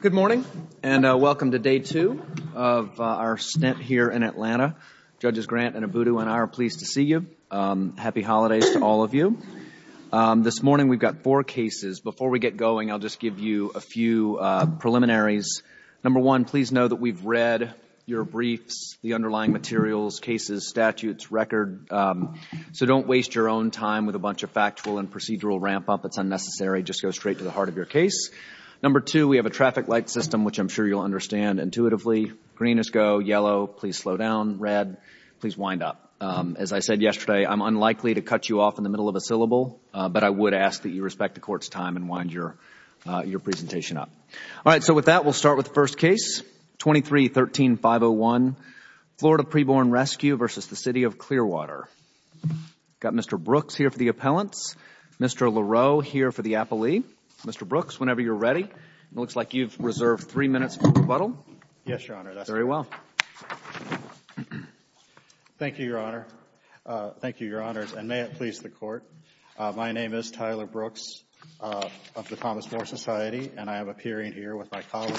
Good morning, and welcome to day two of our stint here in Atlanta. Judges Grant and Abudu and I are pleased to see you. Happy holidays to all of you. This morning we've got four cases. Before we get going, I'll just give you a few preliminaries. Number one, please know that we've read your briefs, the underlying materials, cases, statutes, records, so don't waste your own time with a bunch of factual and procedural ramp-up. It's unnecessary. Just go straight to the heart of your case. Number two, we have a traffic light system, which I'm sure you'll understand intuitively. Green is go, yellow, please slow down, red, please wind up. As I said yesterday, I'm unlikely to cut you off in the middle of a syllable, but I would ask that you respect the court's time and wind your presentation up. All right, so with that, we'll start with the first case, 23-13-501, Florida Preborn Rescue v. The City of Clearwater. We've got Mr. Brooks here for the appellants, Mr. LaRoe here for the appellee. Mr. Brooks, whenever you're ready, it looks like you've reserved three minutes for rebuttal. Yes, Your Honor, that's correct. Very well. Thank you, Your Honor. Thank you, Your Honors, and may it please the Court. My name is Tyler Brooks of the Thomas Moore Society and I am appearing here with my colleague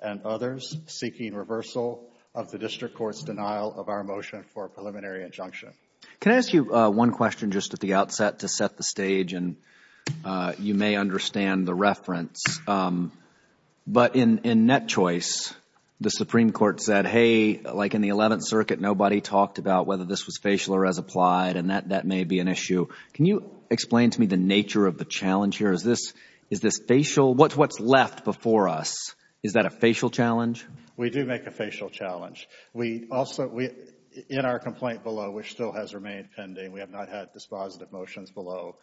and others seeking reversal of the district court's denial of our motion for a preliminary injunction. Can I ask you one question just at the outset to set the stage and you may understand the But in net choice, the Supreme Court said, hey, like in the Eleventh Circuit, nobody talked about whether this was facial or as applied and that may be an issue. Can you explain to me the nature of the challenge here? Is this facial? What's left before us? Is that a facial challenge? We do make a facial challenge. In our complaint below, which still has remained pending, we have not had dispositive motions below,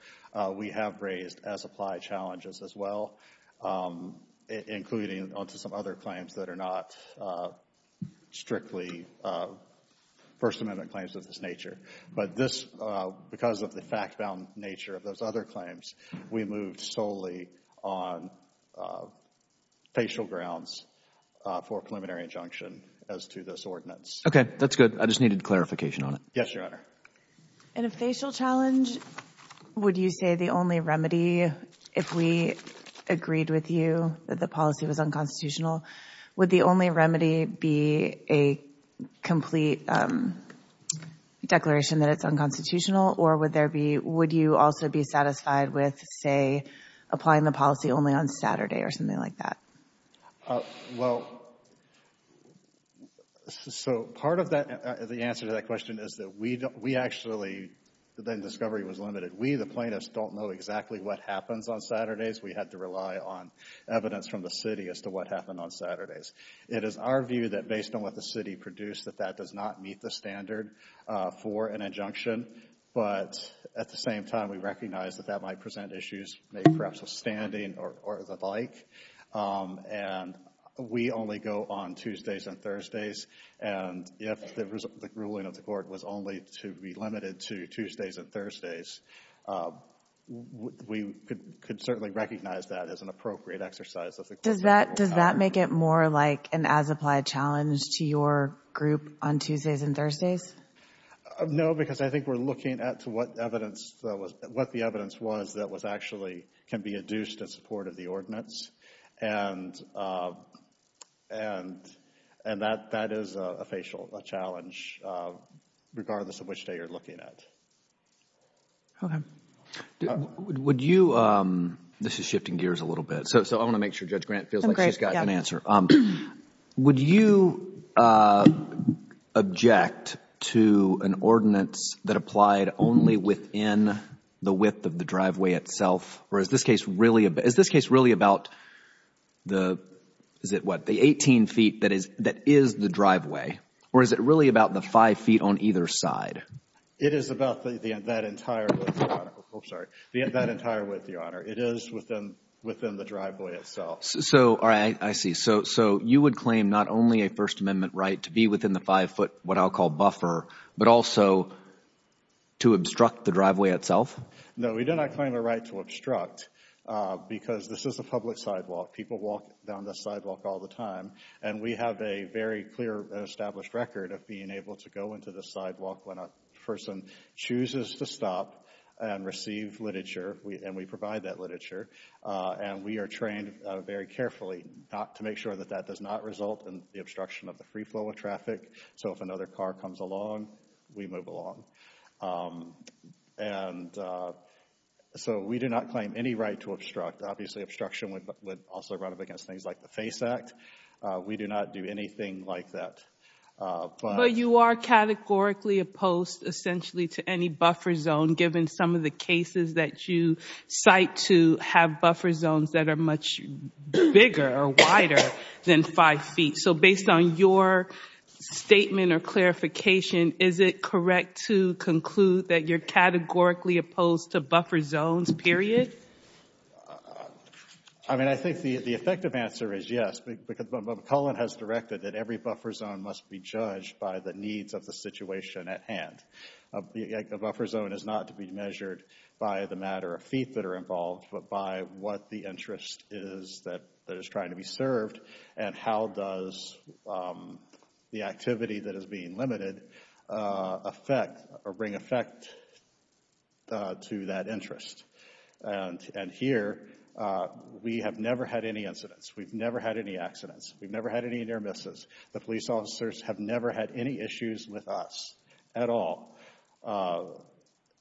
we have raised as applied challenges as well, including onto some other claims that are not strictly First Amendment claims of this nature. But this, because of the fact-bound nature of those other claims, we moved solely on facial grounds for a preliminary injunction as to this ordinance. Okay, that's good. I just needed clarification on it. Yes, Your Honor. In a facial challenge, would you say the only remedy, if we agreed with you that the policy was unconstitutional, would the only remedy be a complete declaration that it's unconstitutional or would there be, would you also be satisfied with, say, applying the policy only on Saturday or something like that? Well, so part of that, the answer to that question is that we actually, then discovery was limited. We, the plaintiffs, don't know exactly what happens on Saturdays. We had to rely on evidence from the city as to what happened on Saturdays. It is our view that based on what the city produced, that that does not meet the standard for an injunction, but at the same time, we recognize that that might present issues, maybe perhaps with standing or the like, and we only go on Tuesdays and Thursdays, and if the ruling of the court was only to be limited to Tuesdays and Thursdays, we could certainly recognize that as an appropriate exercise of the court's rule. Does that make it more like an as-applied challenge to your group on Tuesdays and Thursdays? No, because I think we're looking at what evidence, what the evidence was that was actually, can be adduced in support of the ordinance, and that is a facial challenge, regardless of which day you're looking at. Okay. Would you, this is shifting gears a little bit, so I want to make sure Judge Grant feels like she's got an answer. Would you object to an ordinance that applied only within the width of the driveway itself, or is this case really about the, is it what, the eighteen feet that is the driveway, or is it really about the five feet on either side? It is about that entire width, Your Honor, oh, sorry, that entire width, Your Honor. It is within the driveway itself. So, all right, I see. So you would claim not only a First Amendment right to be within the five foot, what I'll call buffer, but also to obstruct the driveway itself? No, we do not claim a right to obstruct, because this is a public sidewalk. People walk down this sidewalk all the time, and we have a very clear and established record of being able to go into the sidewalk when a person chooses to stop and receive literature, and we provide that literature, and we are trained very carefully to make sure that that does not result in the obstruction of the free flow of traffic. So if another car comes along, we move along. And so we do not claim any right to obstruct. Obviously, obstruction would also run up against things like the FACE Act. We do not do anything like that. But you are categorically opposed, essentially, to any buffer zone, given some of the cases that you cite to have buffer zones that are much bigger or wider than five feet. So based on your statement or clarification, is it correct to conclude that you're categorically opposed to buffer zones, period? I mean, I think the effective answer is yes, because McClellan has directed that every buffer zone must be judged by the needs of the situation at hand. A buffer zone is not to be measured by the matter of feet that are involved, but by what the interest is that is trying to be served, and how does the activity that is being limited affect or bring effect to that interest? And here, we have never had any incidents. We've never had any accidents. We've never had any near misses. The police officers have never had any issues with us at all.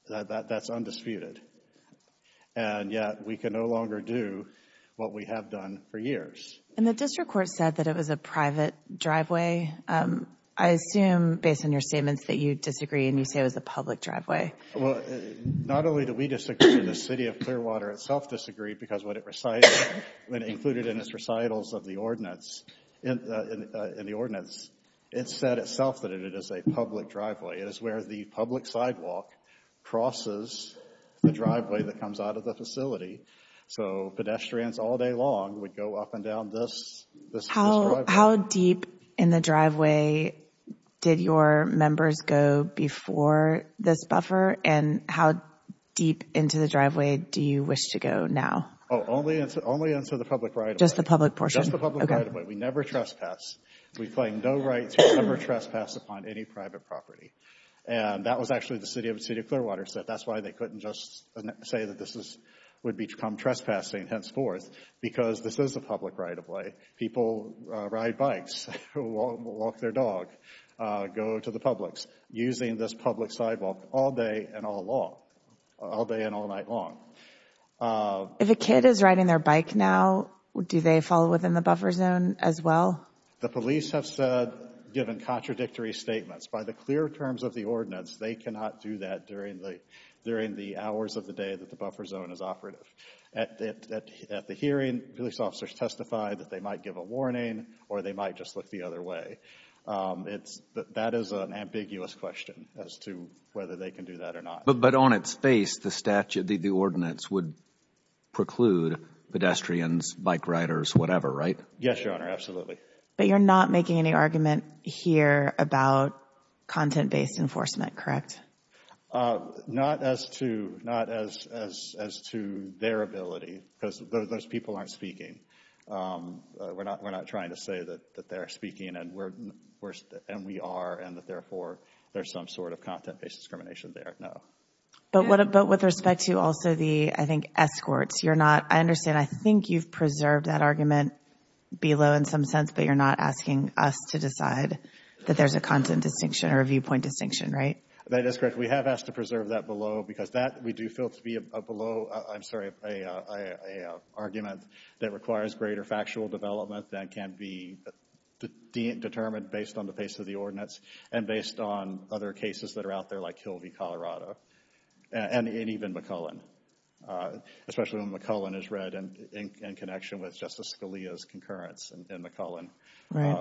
That's undisputed. And yet, we can no longer do what we have done for years. And the district court said that it was a private driveway. I assume, based on your statements, that you disagree and you say it was a public driveway. Well, not only do we disagree, the City of Clearwater itself disagreed, because what it recited, when included in its recitals of the ordinance, it said itself that it is a public driveway. It is where the public sidewalk crosses the driveway that comes out of the facility. So pedestrians all day long would go up and down this driveway. How deep in the driveway did your members go before this buffer, and how deep into the driveway do you wish to go now? Oh, only into the public right of way. Just the public portion. Just the public right of way. We never trespass. We claim no rights. We never trespass upon any private property. And that was actually what the City of Clearwater said. That's why they couldn't just say that this would become trespassing henceforth, because this is a public right of way. People ride bikes, walk their dog, go to the publics, using this public sidewalk all day and all night long. If a kid is riding their bike now, do they fall within the buffer zone as well? The police have said, given contradictory statements, by the clear terms of the ordinance, they cannot do that during the hours of the day that the buffer zone is operative. At the hearing, police officers testified that they might give a warning or they might just look the other way. That is an ambiguous question as to whether they can do that or not. But on its face, the statute, the ordinance would preclude pedestrians, bike riders, whatever, right? Yes, Your Honor. Absolutely. But you're not making any argument here about content-based enforcement, correct? Not as to, not as to their ability, because those people aren't speaking. We're not, we're not trying to say that they're speaking and we're, and we are and that therefore there's some sort of content-based discrimination there, no. But with respect to also the, I think, escorts, you're not, I understand, I think you've preserved that argument below in some sense, but you're not asking us to decide that there's a content distinction or a viewpoint distinction, right? That is correct. We have asked to preserve that below because that, we do feel to be a below, I'm sorry, a argument that requires greater factual development that can be determined based on the face of the ordinance and based on other cases that are out there like Kilby, Colorado, and even McCullen, especially when McCullen is read in connection with Justice Scalia's concurrence in McCullen,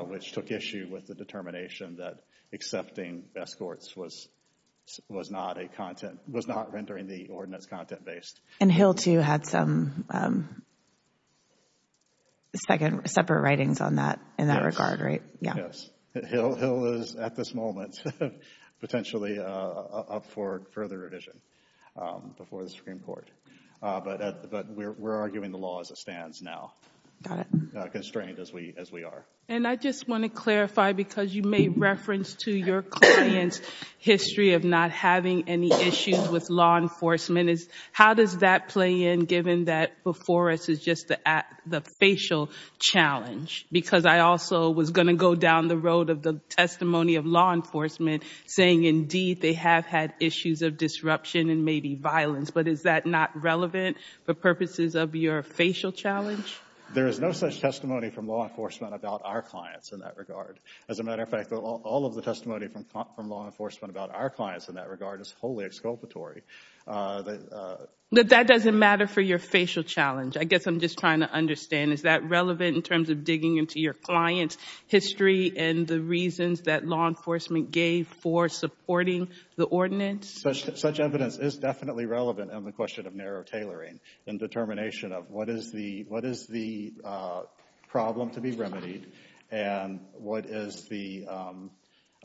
which took issue with the determination that accepting escorts was not a content, was not rendering the ordinance content-based. And Hill, too, had some separate writings on that in that regard, right? Yes. Hill is, at this moment, potentially up for further revision before the Supreme Court. But we're arguing the law as it stands now, not constrained as we are. And I just want to clarify, because you made reference to your client's history of not having any issues with law enforcement. How does that play in, given that before us, it's just the facial challenge? Because I also was going to go down the road of the testimony of law enforcement, saying indeed they have had issues of disruption and maybe violence. But is that not relevant for purposes of your facial challenge? There is no such testimony from law enforcement about our clients in that regard. As a matter of fact, all of the testimony from law enforcement about our clients in that regard is wholly exculpatory. That doesn't matter for your facial challenge. I guess I'm just trying to understand, is that relevant in terms of digging into your client's history and the reasons that law enforcement gave for supporting the ordinance? Such evidence is definitely relevant in the question of narrow tailoring and determination of what is the problem to be remedied and what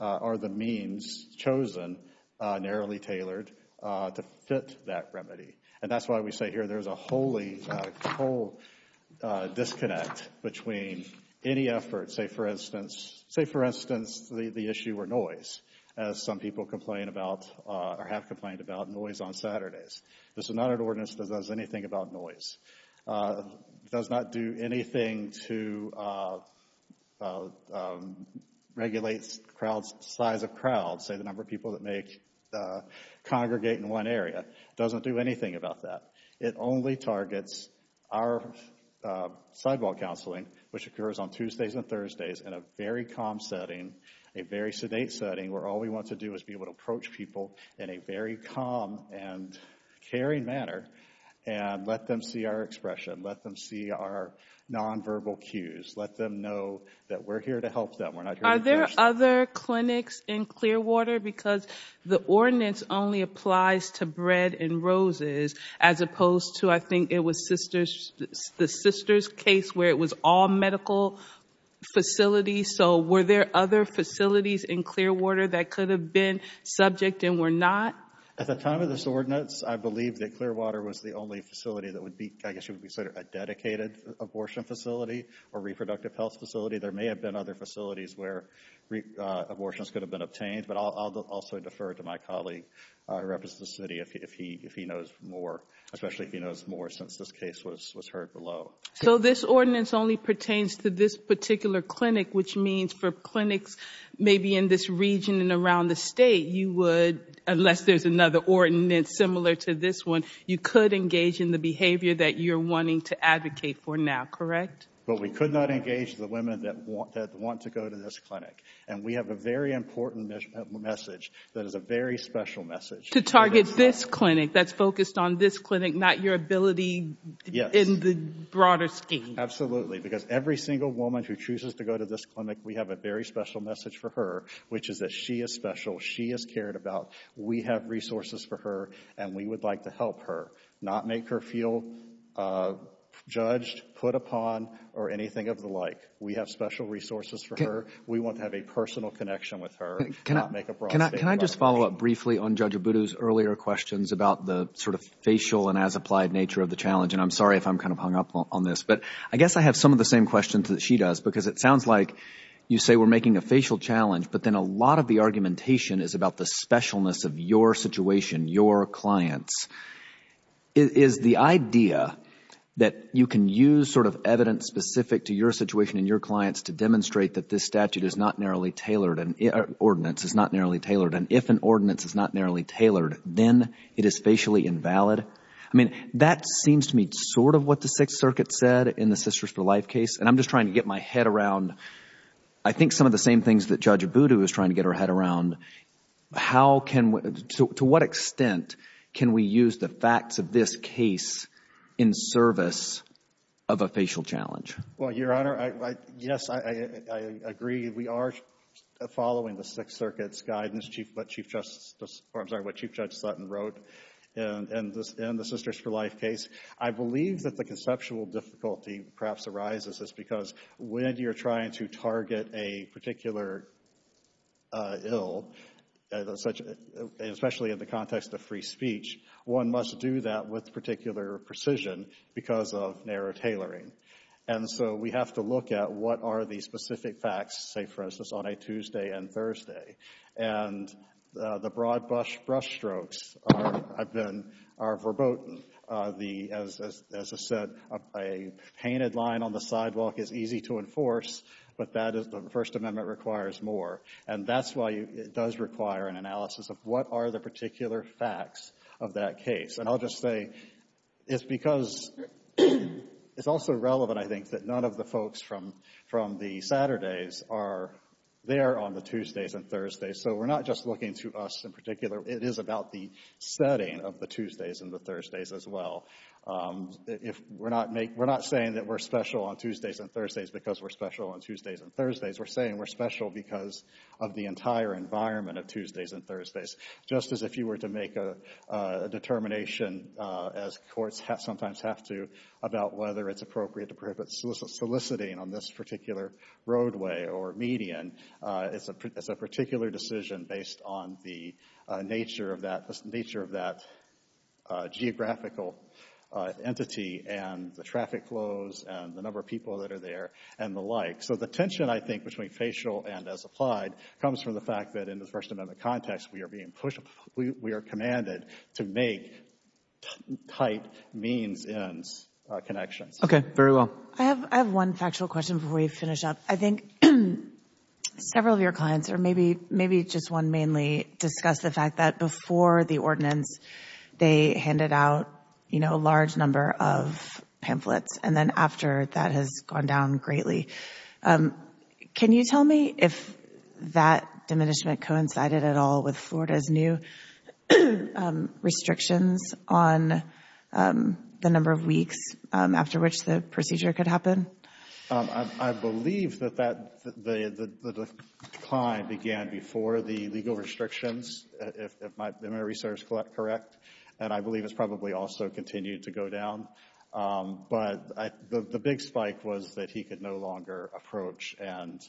are the means chosen, narrowly tailored, to fit that remedy. And that's why we say here there's a whole disconnect between any effort, say for instance, the issue of noise, as some people complain about or have complained about noise on Saturdays. This is not an ordinance that does anything about noise. It does not do anything to regulate size of crowds, say the number of people that congregate in one area. It doesn't do anything about that. It only targets our sidewall counseling, which occurs on Tuesdays and Thursdays in a very calm setting, a very sedate setting, where all we want to do is be able to approach people in a very calm and caring manner and let them see our expression, let them see our nonverbal cues, let them know that we're here to help them. We're not here to push them. Are there other clinics in Clearwater? Because the ordinance only applies to Bread and Roses as opposed to, I think it was the Sister's case where it was all medical facilities. So were there other facilities in Clearwater that could have been subject and were not? At the time of this ordinance, I believe that Clearwater was the only facility that would be, I guess you would say, a dedicated abortion facility or reproductive health facility. There may have been other facilities where abortions could have been obtained, but I'll also defer to my colleague who represents the city if he knows more, especially if he So this ordinance only pertains to this particular clinic, which means for clinics maybe in this region and around the state, you would, unless there's another ordinance similar to this one, you could engage in the behavior that you're wanting to advocate for now, correct? But we could not engage the women that want to go to this clinic. And we have a very important message that is a very special message. To target this clinic that's focused on this clinic, not your ability in the broader scheme. Absolutely. Because every single woman who chooses to go to this clinic, we have a very special message for her, which is that she is special. She is cared about. We have resources for her and we would like to help her, not make her feel judged, put upon or anything of the like. We have special resources for her. We want to have a personal connection with her. Can I just follow up briefly on Judge Abudu's earlier questions about the sort of facial and as applied nature of the challenge? And I'm sorry if I'm kind of hung up on this, but I guess I have some of the same questions that she does, because it sounds like you say we're making a facial challenge, but then a lot of the argumentation is about the specialness of your situation, your clients. Is the idea that you can use sort of evidence specific to your situation and your clients to demonstrate that this statute is not narrowly tailored and ordinance is not narrowly And if an ordinance is not narrowly tailored, then it is facially invalid? I mean, that seems to me sort of what the Sixth Circuit said in the Sisters for Life case. And I'm just trying to get my head around, I think, some of the same things that Judge Abudu is trying to get her head around. How can we, to what extent can we use the facts of this case in service of a facial challenge? Well, Your Honor, yes, I agree. We are following the Sixth Circuit's guidance, what Chief Justice Sutton wrote in the Sisters for Life case. I believe that the conceptual difficulty perhaps arises is because when you're trying to target a particular ill, especially in the context of free speech, one must do that with particular precision because of narrow tailoring. And so we have to look at what are the specific facts, say, for instance, on a Tuesday and Thursday. And the broad brush strokes are verboten. As I said, a painted line on the sidewalk is easy to enforce, but the First Amendment requires more. And that's why it does require an analysis of what are the particular facts of that case. And I'll just say it's because it's also relevant, I think, that none of the folks from the Saturdays are there on the Tuesdays and Thursdays. So we're not just looking to us in particular. It is about the setting of the Tuesdays and the Thursdays as well. We're not saying that we're special on Tuesdays and Thursdays because we're special on Tuesdays and Thursdays. We're saying we're special because of the entire environment of Tuesdays and Thursdays. Just as if you were to make a determination, as courts sometimes have to, about whether it's appropriate to prohibit soliciting on this particular roadway or median, it's a particular decision based on the nature of that geographical entity and the traffic flows and the number of people that are there and the like. So the tension, I think, between facial and as applied comes from the fact that in the case of Florida, we are commanded to make tight means-ends connections. Okay. Very well. I have one factual question before we finish up. I think several of your clients, or maybe just one mainly, discussed the fact that before the ordinance they handed out a large number of pamphlets and then after that has gone down greatly. Can you tell me if that diminishment coincided at all with Florida's new restrictions on the number of weeks after which the procedure could happen? I believe that the decline began before the legal restrictions, if my research is correct, and I believe it's probably also continued to go down, but the big spike was that he could no longer approach and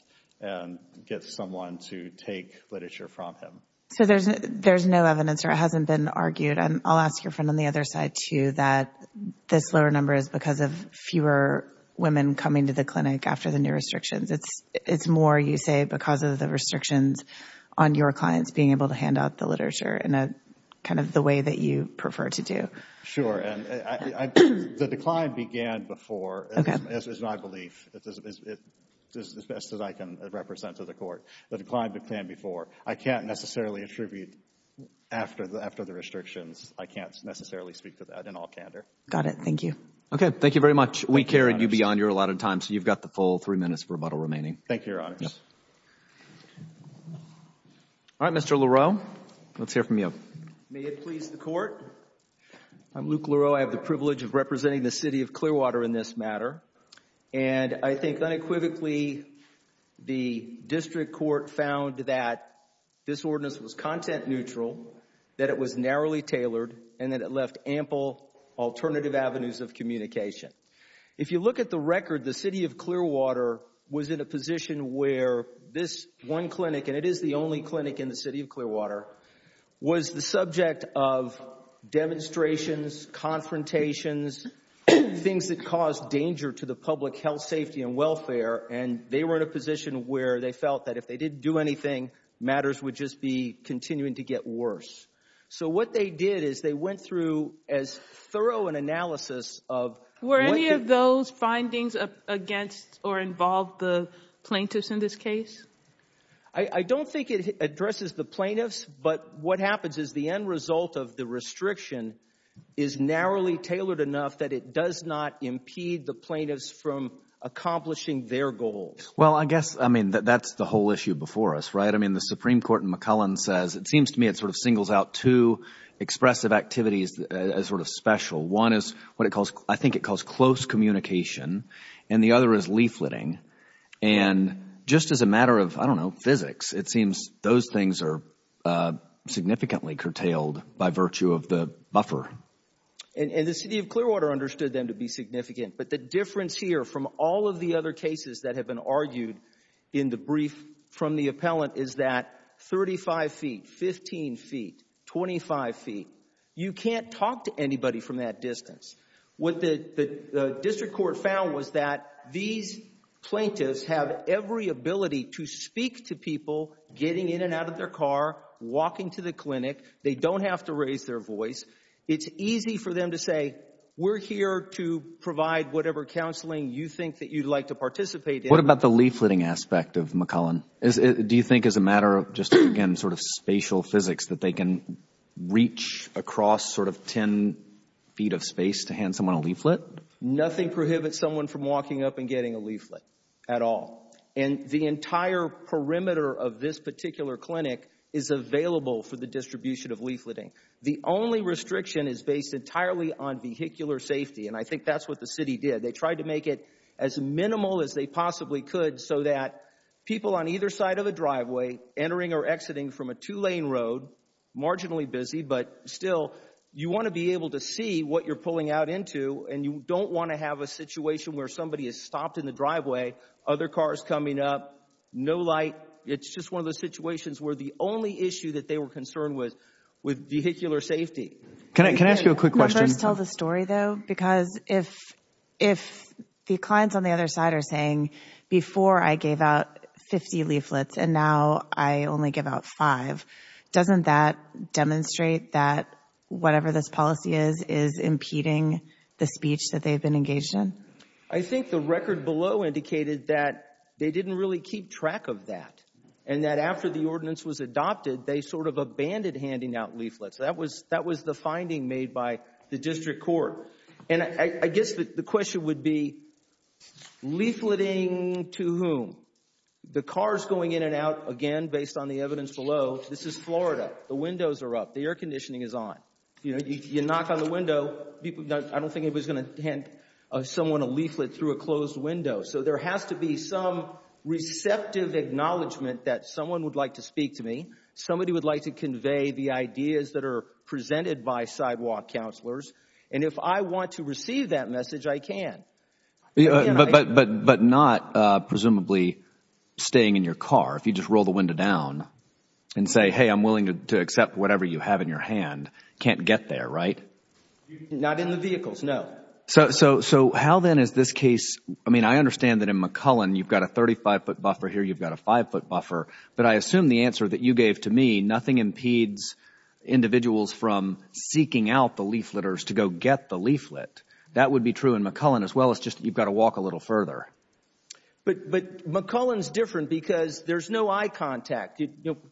get someone to take literature from him. So there's no evidence, or it hasn't been argued, and I'll ask your friend on the other side too, that this lower number is because of fewer women coming to the clinic after the new restrictions. It's more, you say, because of the restrictions on your clients being able to hand out the literature in kind of the way that you prefer to do. Sure. And the decline began before, is my belief, as best as I can represent to the Court. The decline began before. I can't necessarily attribute after the restrictions. I can't necessarily speak to that in all candor. Got it. Thank you. Okay. Thank you very much. We carried you beyond your allotted time, so you've got the full three minutes of rebuttal remaining. Thank you, Your Honors. All right. Mr. Laureau, let's hear from you. May it please the Court. I'm Luke Laureau. I have the privilege of representing the City of Clearwater in this matter. And I think unequivocally the District Court found that this ordinance was content neutral, that it was narrowly tailored, and that it left ample alternative avenues of communication. If you look at the record, the City of Clearwater was in a position where this one clinic, and it is the only clinic in the City of Clearwater, was the subject of demonstrations, confrontations, things that caused danger to the public health, safety, and welfare. And they were in a position where they felt that if they didn't do anything, matters would just be continuing to get worse. So what they did is they went through as thorough an analysis of... Were any of those findings against or involved the plaintiffs in this case? I don't think it addresses the plaintiffs, but what happens is the end result of the restriction is narrowly tailored enough that it does not impede the plaintiffs from accomplishing their goals. Well, I guess, I mean, that's the whole issue before us, right? I mean, the Supreme Court in McClellan says... it seems to me it sort of singles out two expressive activities as sort of special. One is what I think it calls close communication, and the other is leafleting. And just as a matter of, I don't know, physics, it seems those things are significantly curtailed by virtue of the buffer. And the City of Clearwater understood them to be significant, but the difference here from all of the other cases that have been argued in the brief from the appellant is that 35 feet, 15 feet, 25 feet, you can't talk to anybody from that distance. What the district court found was that these plaintiffs have every ability to speak to people getting in and out of their car, walking to the clinic. They don't have to raise their voice. It's easy for them to say, we're here to provide whatever counseling you think that you'd like to participate in. What about the leafleting aspect of McClellan? Do you think as a matter of, just again, sort of spatial physics, that they can reach across sort of 10 feet of space to hand someone a leaflet? Nothing prohibits someone from walking up and getting a leaflet at all. And the entire perimeter of this particular clinic is available for the distribution of leafleting. The only restriction is based entirely on vehicular safety, and I think that's what the city did. They tried to make it as minimal as they possibly could so that people on either side of the You want to be able to see what you're pulling out into, and you don't want to have a situation where somebody is stopped in the driveway, other cars coming up, no light. It's just one of those situations where the only issue that they were concerned with, with vehicular safety. Can I ask you a quick question? Can we first tell the story though? Because if the clients on the other side are saying, before I gave out 50 leaflets and now I only give out five, doesn't that demonstrate that whatever this policy is, is impeding the speech that they've been engaged in? I think the record below indicated that they didn't really keep track of that, and that after the ordinance was adopted, they sort of abandoned handing out leaflets. That was the finding made by the district court. And I guess the question would be, leafleting to whom? The cars going in and out, again, based on the evidence below, this is Florida. The windows are up. The air conditioning is on. If you knock on the window, I don't think anybody's going to hand someone a leaflet through a closed window. So there has to be some receptive acknowledgment that someone would like to speak to me. Somebody would like to convey the ideas that are presented by sidewalk counselors. And if I want to receive that message, I can. But not presumably staying in your car, if you just roll the window down and say, hey, I'm willing to accept whatever you have in your hand, can't get there, right? Not in the vehicles, no. So how then is this case, I mean, I understand that in McCullen, you've got a 35-foot buffer here, you've got a five-foot buffer, but I assume the answer that you gave to me, nothing impedes individuals from seeking out the leafleters to go get the leaflet. That would be true in McCullen as well, it's just you've got to walk a little further. But McCullen's different because there's no eye contact.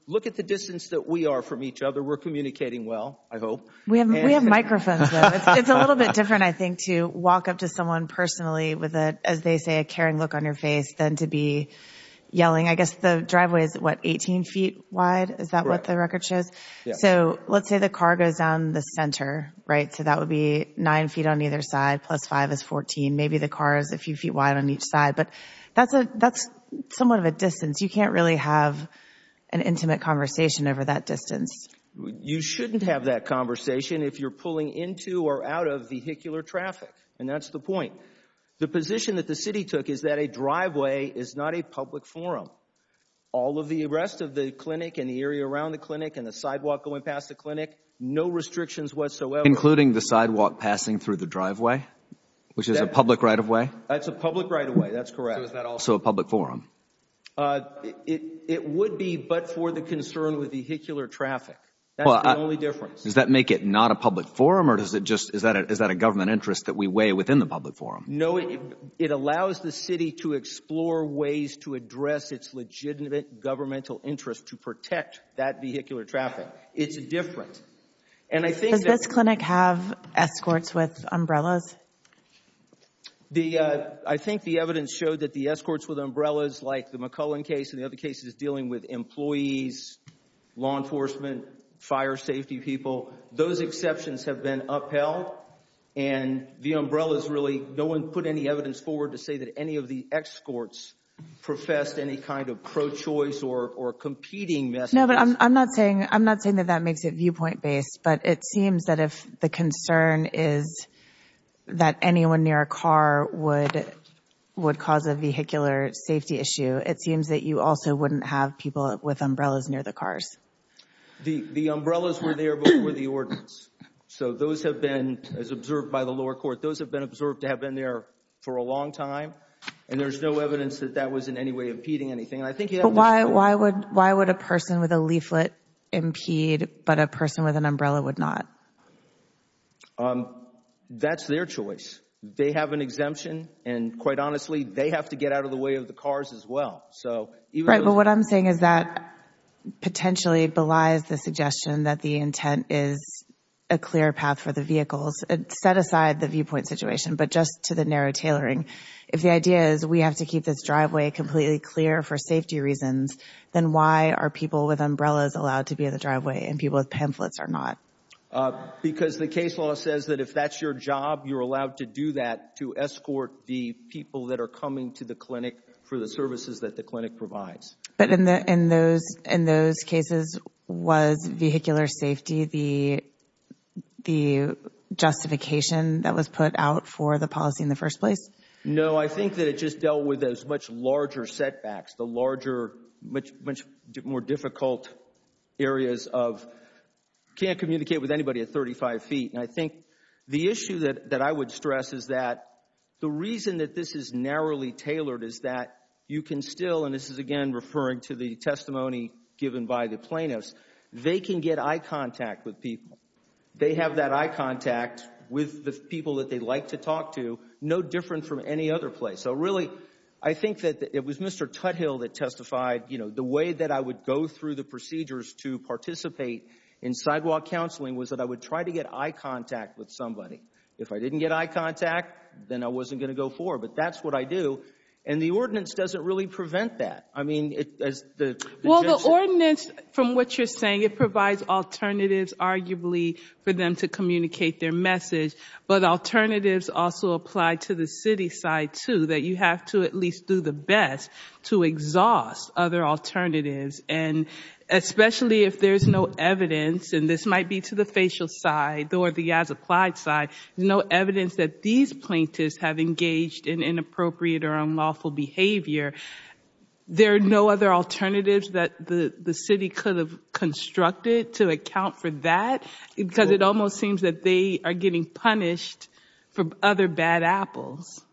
Look at the distance that we are from each other. We're communicating well, I hope. We have microphones. It's a little bit different, I think, to walk up to someone personally with, as they say, a caring look on your face than to be yelling. I guess the driveway is, what, 18 feet wide? Is that what the record shows? So let's say the car goes down the center, right? So that would be nine feet on either side, plus five is 14. Maybe the car is a few feet wide on each side, but that's somewhat of a distance. You can't really have an intimate conversation over that distance. You shouldn't have that conversation if you're pulling into or out of vehicular traffic, and that's the point. The position that the city took is that a driveway is not a public forum. All of the rest of the clinic and the area around the clinic and the sidewalk going past the clinic, no restrictions whatsoever. Including the sidewalk passing through the driveway, which is a public right-of-way? That's a public right-of-way. That's correct. So is that also a public forum? It would be, but for the concern with vehicular traffic. That's the only difference. Does that make it not a public forum, or is that a government interest that we weigh within the public forum? No, it allows the city to explore ways to address its legitimate governmental interest to protect that vehicular traffic. It's different. Does this clinic have escorts with umbrellas? I think the evidence showed that the escorts with umbrellas, like the McCullen case and the other cases dealing with employees, law enforcement, fire safety people, those exceptions have been upheld, and the umbrellas really, no one put any evidence forward to say that any of the escorts professed any kind of pro-choice or competing messages. No, but I'm not saying that that makes it viewpoint-based, but it seems that if the concern is that anyone near a car would cause a vehicular safety issue, it seems that you also wouldn't have people with umbrellas near the cars. The umbrellas were there before the ordinance, so those have been, as observed by the lower court, those have been observed to have been there for a long time, and there's no evidence that that was in any way impeding anything. But why would a person with a leaflet impede, but a person with an umbrella would not? That's their choice. They have an exemption, and quite honestly, they have to get out of the way of the cars as well. Right, but what I'm saying is that potentially belies the suggestion that the intent is a clear path for the vehicles, set aside the viewpoint situation, but just to the narrow tailoring. If the idea is we have to keep this driveway completely clear for safety reasons, then why are people with umbrellas allowed to be in the driveway and people with pamphlets are not? Because the case law says that if that's your job, you're allowed to do that to escort the people that are coming to the clinic for the services that the clinic provides. But in those cases, was vehicular safety the justification that was put out for the policy in the first place? No, I think that it just dealt with those much larger setbacks, the larger, much more difficult areas of can't communicate with anybody at 35 feet. And I think the issue that I would stress is that the reason that this is narrowly tailored is that you can still, and this is again referring to the testimony given by the plaintiffs, they can get eye contact with people. They have that eye contact with the people that they like to talk to, no different from any other place. So really, I think that it was Mr. Tuthill that testified, you know, the way that I would go through the procedures to participate in sidewalk counseling was that I would try to get eye contact with somebody. If I didn't get eye contact, then I wasn't going to go forward, but that's what I do. And the ordinance doesn't really prevent that. I mean, it's the... Well, the ordinance, from what you're saying, it provides alternatives, arguably, for them to communicate their message. But alternatives also apply to the city side, too, that you have to at least do the best to exhaust other alternatives. And especially if there's no evidence, and this might be to the facial side or the as-applied side, no evidence that these plaintiffs have engaged in inappropriate or unlawful behavior, there are no other alternatives that the city could have constructed to account for that? Because it almost seems that they are getting punished for other bad apples.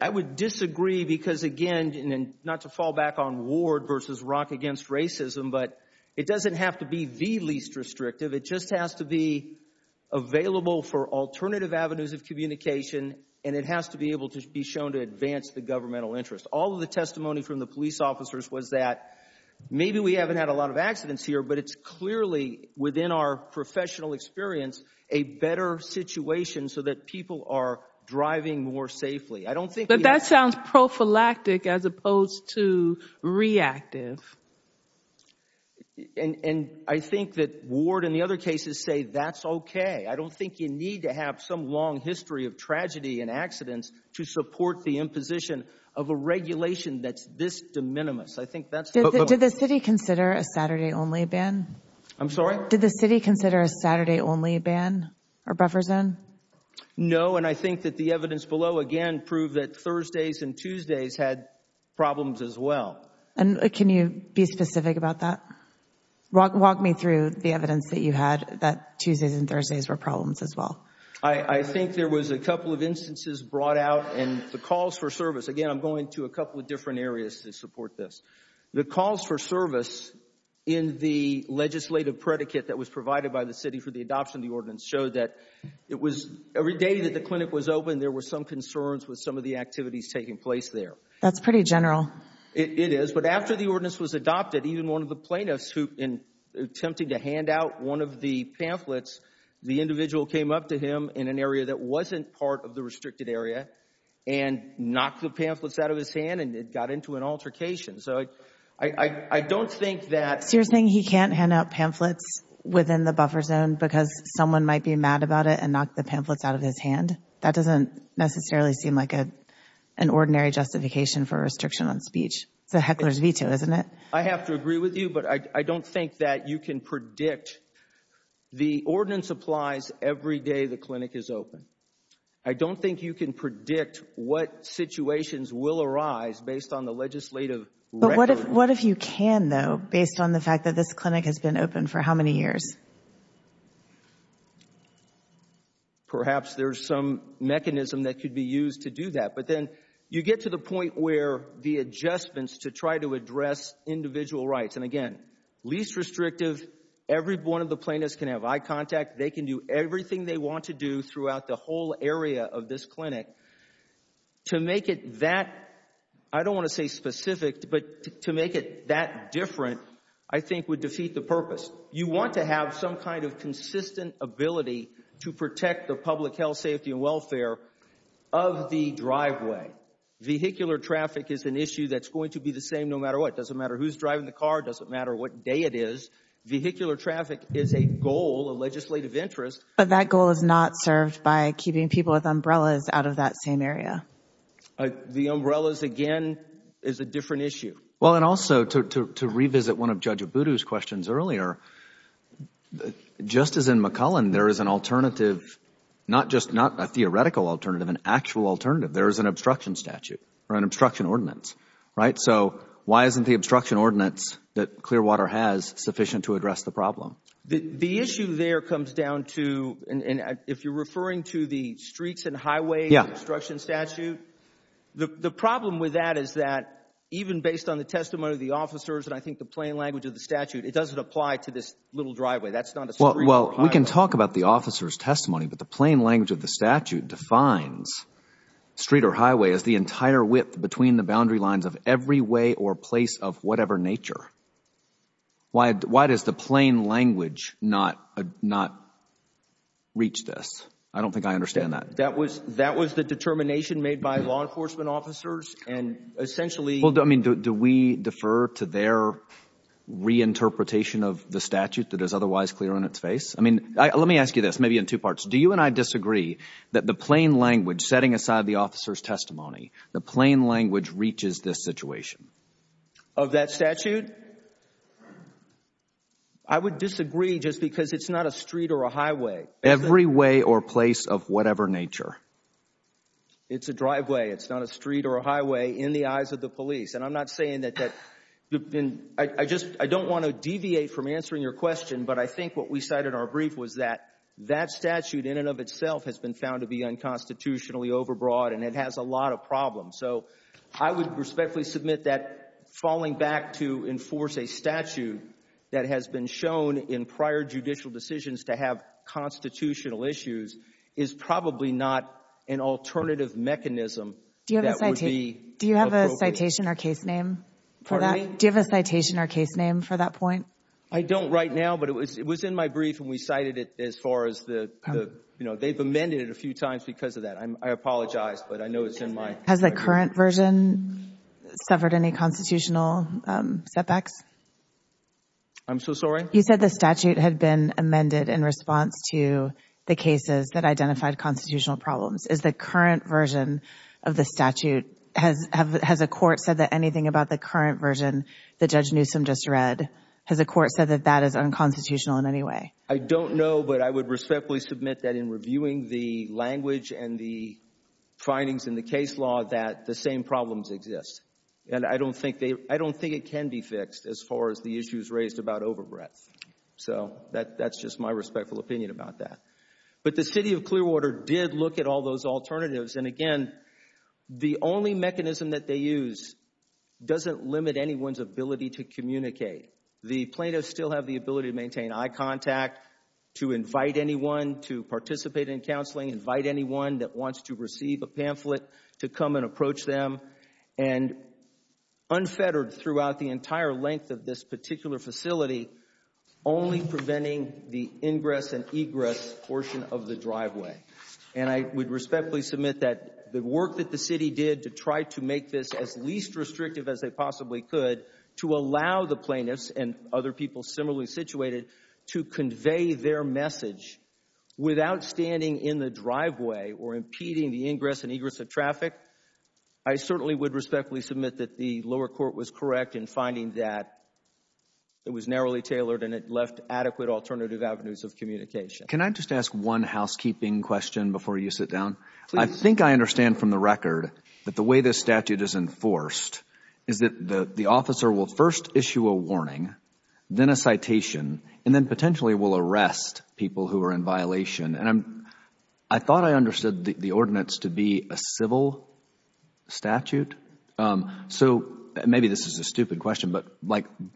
I would disagree because, again, and not to fall back on Ward versus Rock Against Racism, but it doesn't have to be the least restrictive. It just has to be available for alternative avenues of communication, and it has to be able to be shown to advance the governmental interest. All of the testimony from the police officers was that maybe we haven't had a lot of accidents here, but it's clearly, within our professional experience, a better situation so that people are driving more safely. I don't think... But that sounds prophylactic as opposed to reactive. And I think that Ward and the other cases say that's okay. I don't think you need to have some long history of tragedy and accidents to support the imposition of a regulation that's this de minimis. I think that's... Did the city consider a Saturday-only ban? I'm sorry? Did the city consider a Saturday-only ban or buffer zone? No, and I think that the evidence below, again, proved that Thursdays and Tuesdays had problems as well. And can you be specific about that? Walk me through the evidence that you had that Tuesdays and Thursdays were problems as well. I think there was a couple of instances brought out, and the calls for service, again, I'm going to a couple of different areas to support this. The calls for service in the legislative predicate that was provided by the city for the adoption of the ordinance showed that it was... Every day that the clinic was open, there were some concerns with some of the activities taking place there. That's pretty general. It is, but after the ordinance was adopted, even one of the plaintiffs who, in attempting to hand out one of the pamphlets, the individual came up to him in an area that wasn't part of the restricted area and knocked the pamphlets out of his hand, and it got into an altercation. So I don't think that... So you're saying he can't hand out pamphlets within the buffer zone because someone might be mad about it and knocked the pamphlets out of his hand? That doesn't necessarily seem like an ordinary justification for restriction on speech. It's a heckler's veto, isn't it? I have to agree with you, but I don't think that you can predict... The ordinance applies every day the clinic is open. I don't think you can predict what situations will arise based on the legislative record. But what if you can, though, based on the fact that this clinic has been open for how many years? Perhaps there's some mechanism that could be used to do that, but then you get to the individual rights. And again, least restrictive, every one of the plaintiffs can have eye contact. They can do everything they want to do throughout the whole area of this clinic. To make it that... I don't want to say specific, but to make it that different, I think, would defeat the purpose. You want to have some kind of consistent ability to protect the public health, safety and welfare of the driveway. Vehicular traffic is an issue that's going to be the same no matter what. It doesn't matter who's driving the car. It doesn't matter what day it is. Vehicular traffic is a goal, a legislative interest. But that goal is not served by keeping people with umbrellas out of that same area. The umbrellas, again, is a different issue. Well, and also to revisit one of Judge Abudu's questions earlier, just as in McCullen, there is an alternative, not just not a theoretical alternative, an actual alternative. There is an obstruction statute or an obstruction ordinance, right? So why isn't the obstruction ordinance that Clearwater has sufficient to address the problem? The issue there comes down to, and if you're referring to the streets and highways obstruction statute, the problem with that is that even based on the testimony of the officers and I think the plain language of the statute, it doesn't apply to this little driveway. That's not a street or highway. Well, we can talk about the officers' testimony, but the plain language of the statute defines street or highway as the entire width between the boundary lines of every way or place of whatever nature. Why does the plain language not reach this? I don't think I understand that. That was the determination made by law enforcement officers and essentially— Well, I mean, do we defer to their reinterpretation of the statute that is otherwise clear on its face? I mean, let me ask you this, maybe in two parts. Do you and I disagree that the plain language, setting aside the officer's testimony, the plain language reaches this situation? Of that statute? I would disagree just because it's not a street or a highway. Every way or place of whatever nature. It's a driveway. It's not a street or a highway in the eyes of the police. And I'm not saying that—I don't want to deviate from answering your question, but I think what we cited in our brief was that that statute in and of itself has been found to be unconstitutionally overbroad and it has a lot of problems. So I would respectfully submit that falling back to enforce a statute that has been shown in prior judicial decisions to have constitutional issues is probably not an alternative mechanism that would be appropriate. Do you have a citation or case name for that? Pardon me? Do you have a citation or case name for that point? I don't right now, but it was in my brief and we cited it as far as the, you know, they've amended it a few times because of that. I apologize, but I know it's in my brief. Has the current version suffered any constitutional setbacks? I'm so sorry? You said the statute had been amended in response to the cases that identified constitutional problems. Is the current version of the statute—has a court said that anything about the current version that Judge Newsom just read—has a court said that that is unconstitutional in any way? I don't know, but I would respectfully submit that in reviewing the language and the findings in the case law that the same problems exist. And I don't think it can be fixed as far as the issues raised about overbreadth. So that's just my respectful opinion about that. But the city of Clearwater did look at all those alternatives, and again, the only mechanism that they use doesn't limit anyone's ability to communicate. The plaintiffs still have the ability to maintain eye contact, to invite anyone to participate in counseling, invite anyone that wants to receive a pamphlet to come and approach them, and unfettered throughout the entire length of this particular facility, only preventing the ingress and egress portion of the driveway. And I would respectfully submit that the work that the city did to try to make this as least restrictive as they possibly could to allow the plaintiffs and other people similarly situated to convey their message without standing in the driveway or impeding the ingress and egress of traffic, I certainly would respectfully submit that the lower court was correct in finding that it was narrowly tailored and it left adequate alternative avenues of communication. Can I just ask one housekeeping question before you sit down? I think I understand from the record that the way this statute is enforced is that the officer will first issue a warning, then a citation, and then potentially will arrest people who are in violation. I thought I understood the ordinance to be a civil statute. So maybe this is a stupid question, but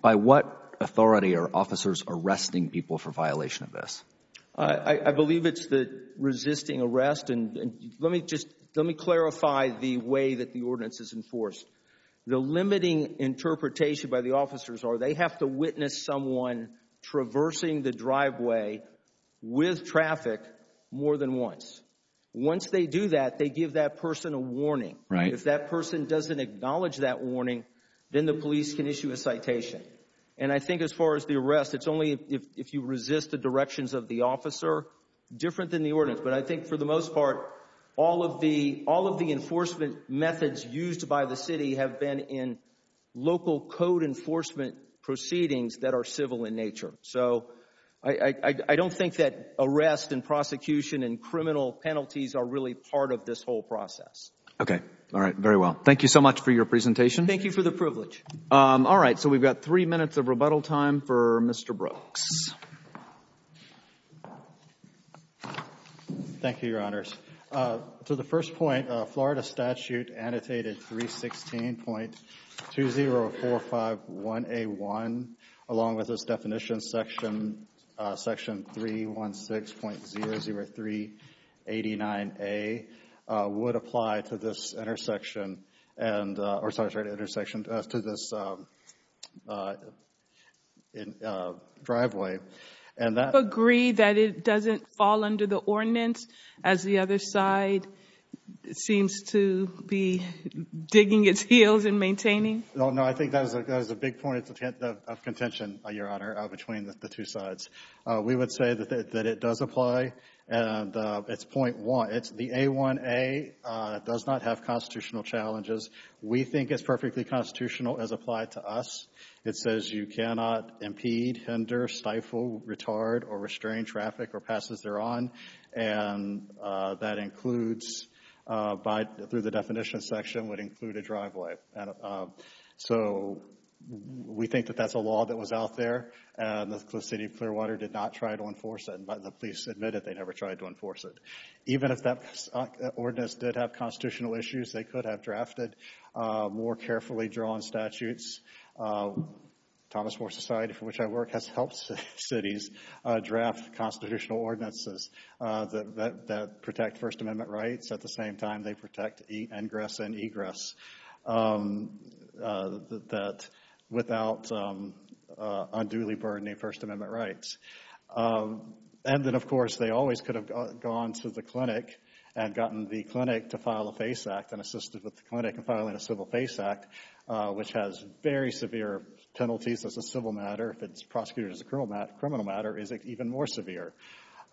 by what authority are officers arresting people for violation of this? I believe it's the resisting arrest, and let me just clarify the way that the ordinance is enforced. The limiting interpretation by the officers are they have to witness someone traversing the driveway with traffic more than once. Once they do that, they give that person a warning. If that person doesn't acknowledge that warning, then the police can issue a citation. And I think as far as the arrest, it's only if you resist the directions of the officer. Different than the ordinance, but I think for the most part, all of the enforcement methods used by the city have been in local code enforcement proceedings that are civil in nature. So I don't think that arrest and prosecution and criminal penalties are really part of this whole process. Okay. All right. Very well. Thank you so much for your presentation. Thank you for the privilege. All right. So we've got three minutes of rebuttal time for Mr. Brooks. Thank you, Your Honors. To the first point, Florida statute annotated 316.20451A1, along with this definition section 316.0389A, would apply to this intersection, or sorry, intersection, to this driveway. And that- Agree that it doesn't fall under the ordinance, as the other side seems to be digging its heels in maintaining? No, no. I don't think that is a big point of contention, Your Honor, between the two sides. We would say that it does apply, and it's point one. The A1A does not have constitutional challenges. We think it's perfectly constitutional as applied to us. It says you cannot impede, hinder, stifle, retard, or restrain traffic or passes thereon. And that includes, through the definition section, would include a driveway. So, we think that that's a law that was out there, and the city of Clearwater did not try to enforce it, but the police admitted they never tried to enforce it. Even if that ordinance did have constitutional issues, they could have drafted more carefully drawn statutes. Thomas More Society, for which I work, has helped cities draft constitutional ordinances that protect First Amendment rights. At the same time, they protect egress and egress without unduly burdening First Amendment rights. And then, of course, they always could have gone to the clinic and gotten the clinic to file a FACE Act and assisted with the clinic in filing a civil FACE Act, which has very severe penalties as a civil matter, if it's prosecuted as a criminal matter, it's even more severe.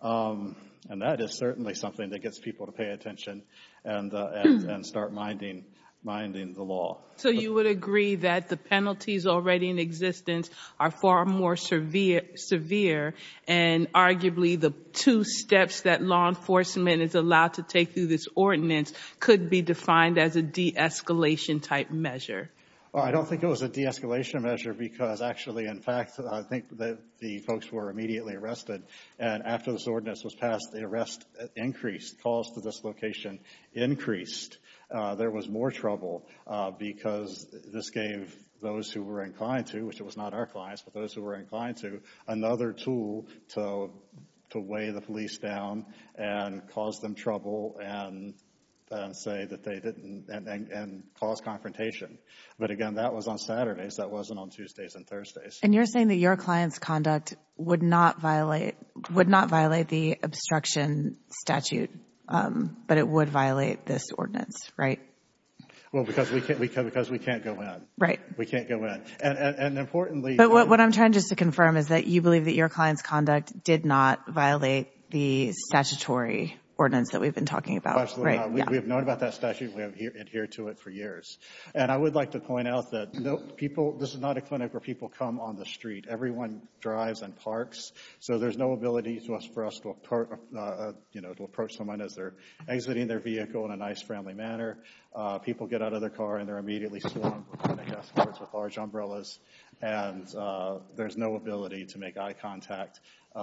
And that is certainly something that gets people to pay attention and start minding the law. So, you would agree that the penalties already in existence are far more severe, and arguably the two steps that law enforcement is allowed to take through this ordinance could be defined as a de-escalation type measure? Well, I don't think it was a de-escalation measure because, actually, in fact, I think the folks were immediately arrested. And after this ordinance was passed, the arrest increased, calls to this location increased. There was more trouble because this gave those who were inclined to, which it was not our clients, but those who were inclined to, another tool to weigh the police down and cause them trouble and cause confrontation. But again, that was on Saturdays, that wasn't on Tuesdays and Thursdays. And you're saying that your client's conduct would not violate the obstruction statute, but it would violate this ordinance, right? Well, because we can't go in. We can't go in. And importantly... But what I'm trying just to confirm is that you believe that your client's conduct did not violate the statutory ordinance that we've been talking about? Absolutely not. We have known about that statute. We have adhered to it for years. And I would like to point out that this is not a clinic where people come on the street. Everyone drives and parks, so there's no ability for us to approach someone as they're exiting their vehicle in a nice, friendly manner. People get out of their car and they're immediately swarmed with large umbrellas and there's no ability to make eye contact. They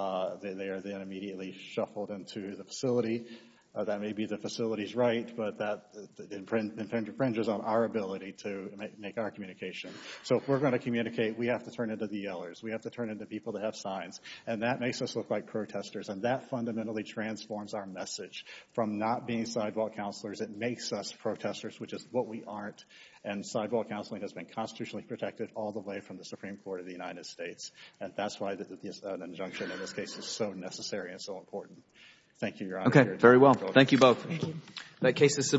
are then immediately shuffled into the facility. That may be the facility's right, but that infringes on our ability to make our communication. So if we're going to communicate, we have to turn into the yellers. We have to turn into people that have signs. And that makes us look like protesters. And that fundamentally transforms our message. From not being sidewalk counselors, it makes us protesters, which is what we aren't. And sidewalk counseling has been constitutionally protected all the way from the Supreme Court of the United States. And that's why an injunction in this case is so necessary and so important. Thank you, Your Honor. Okay, very well. Thank you both. Thank you. That case is submitted.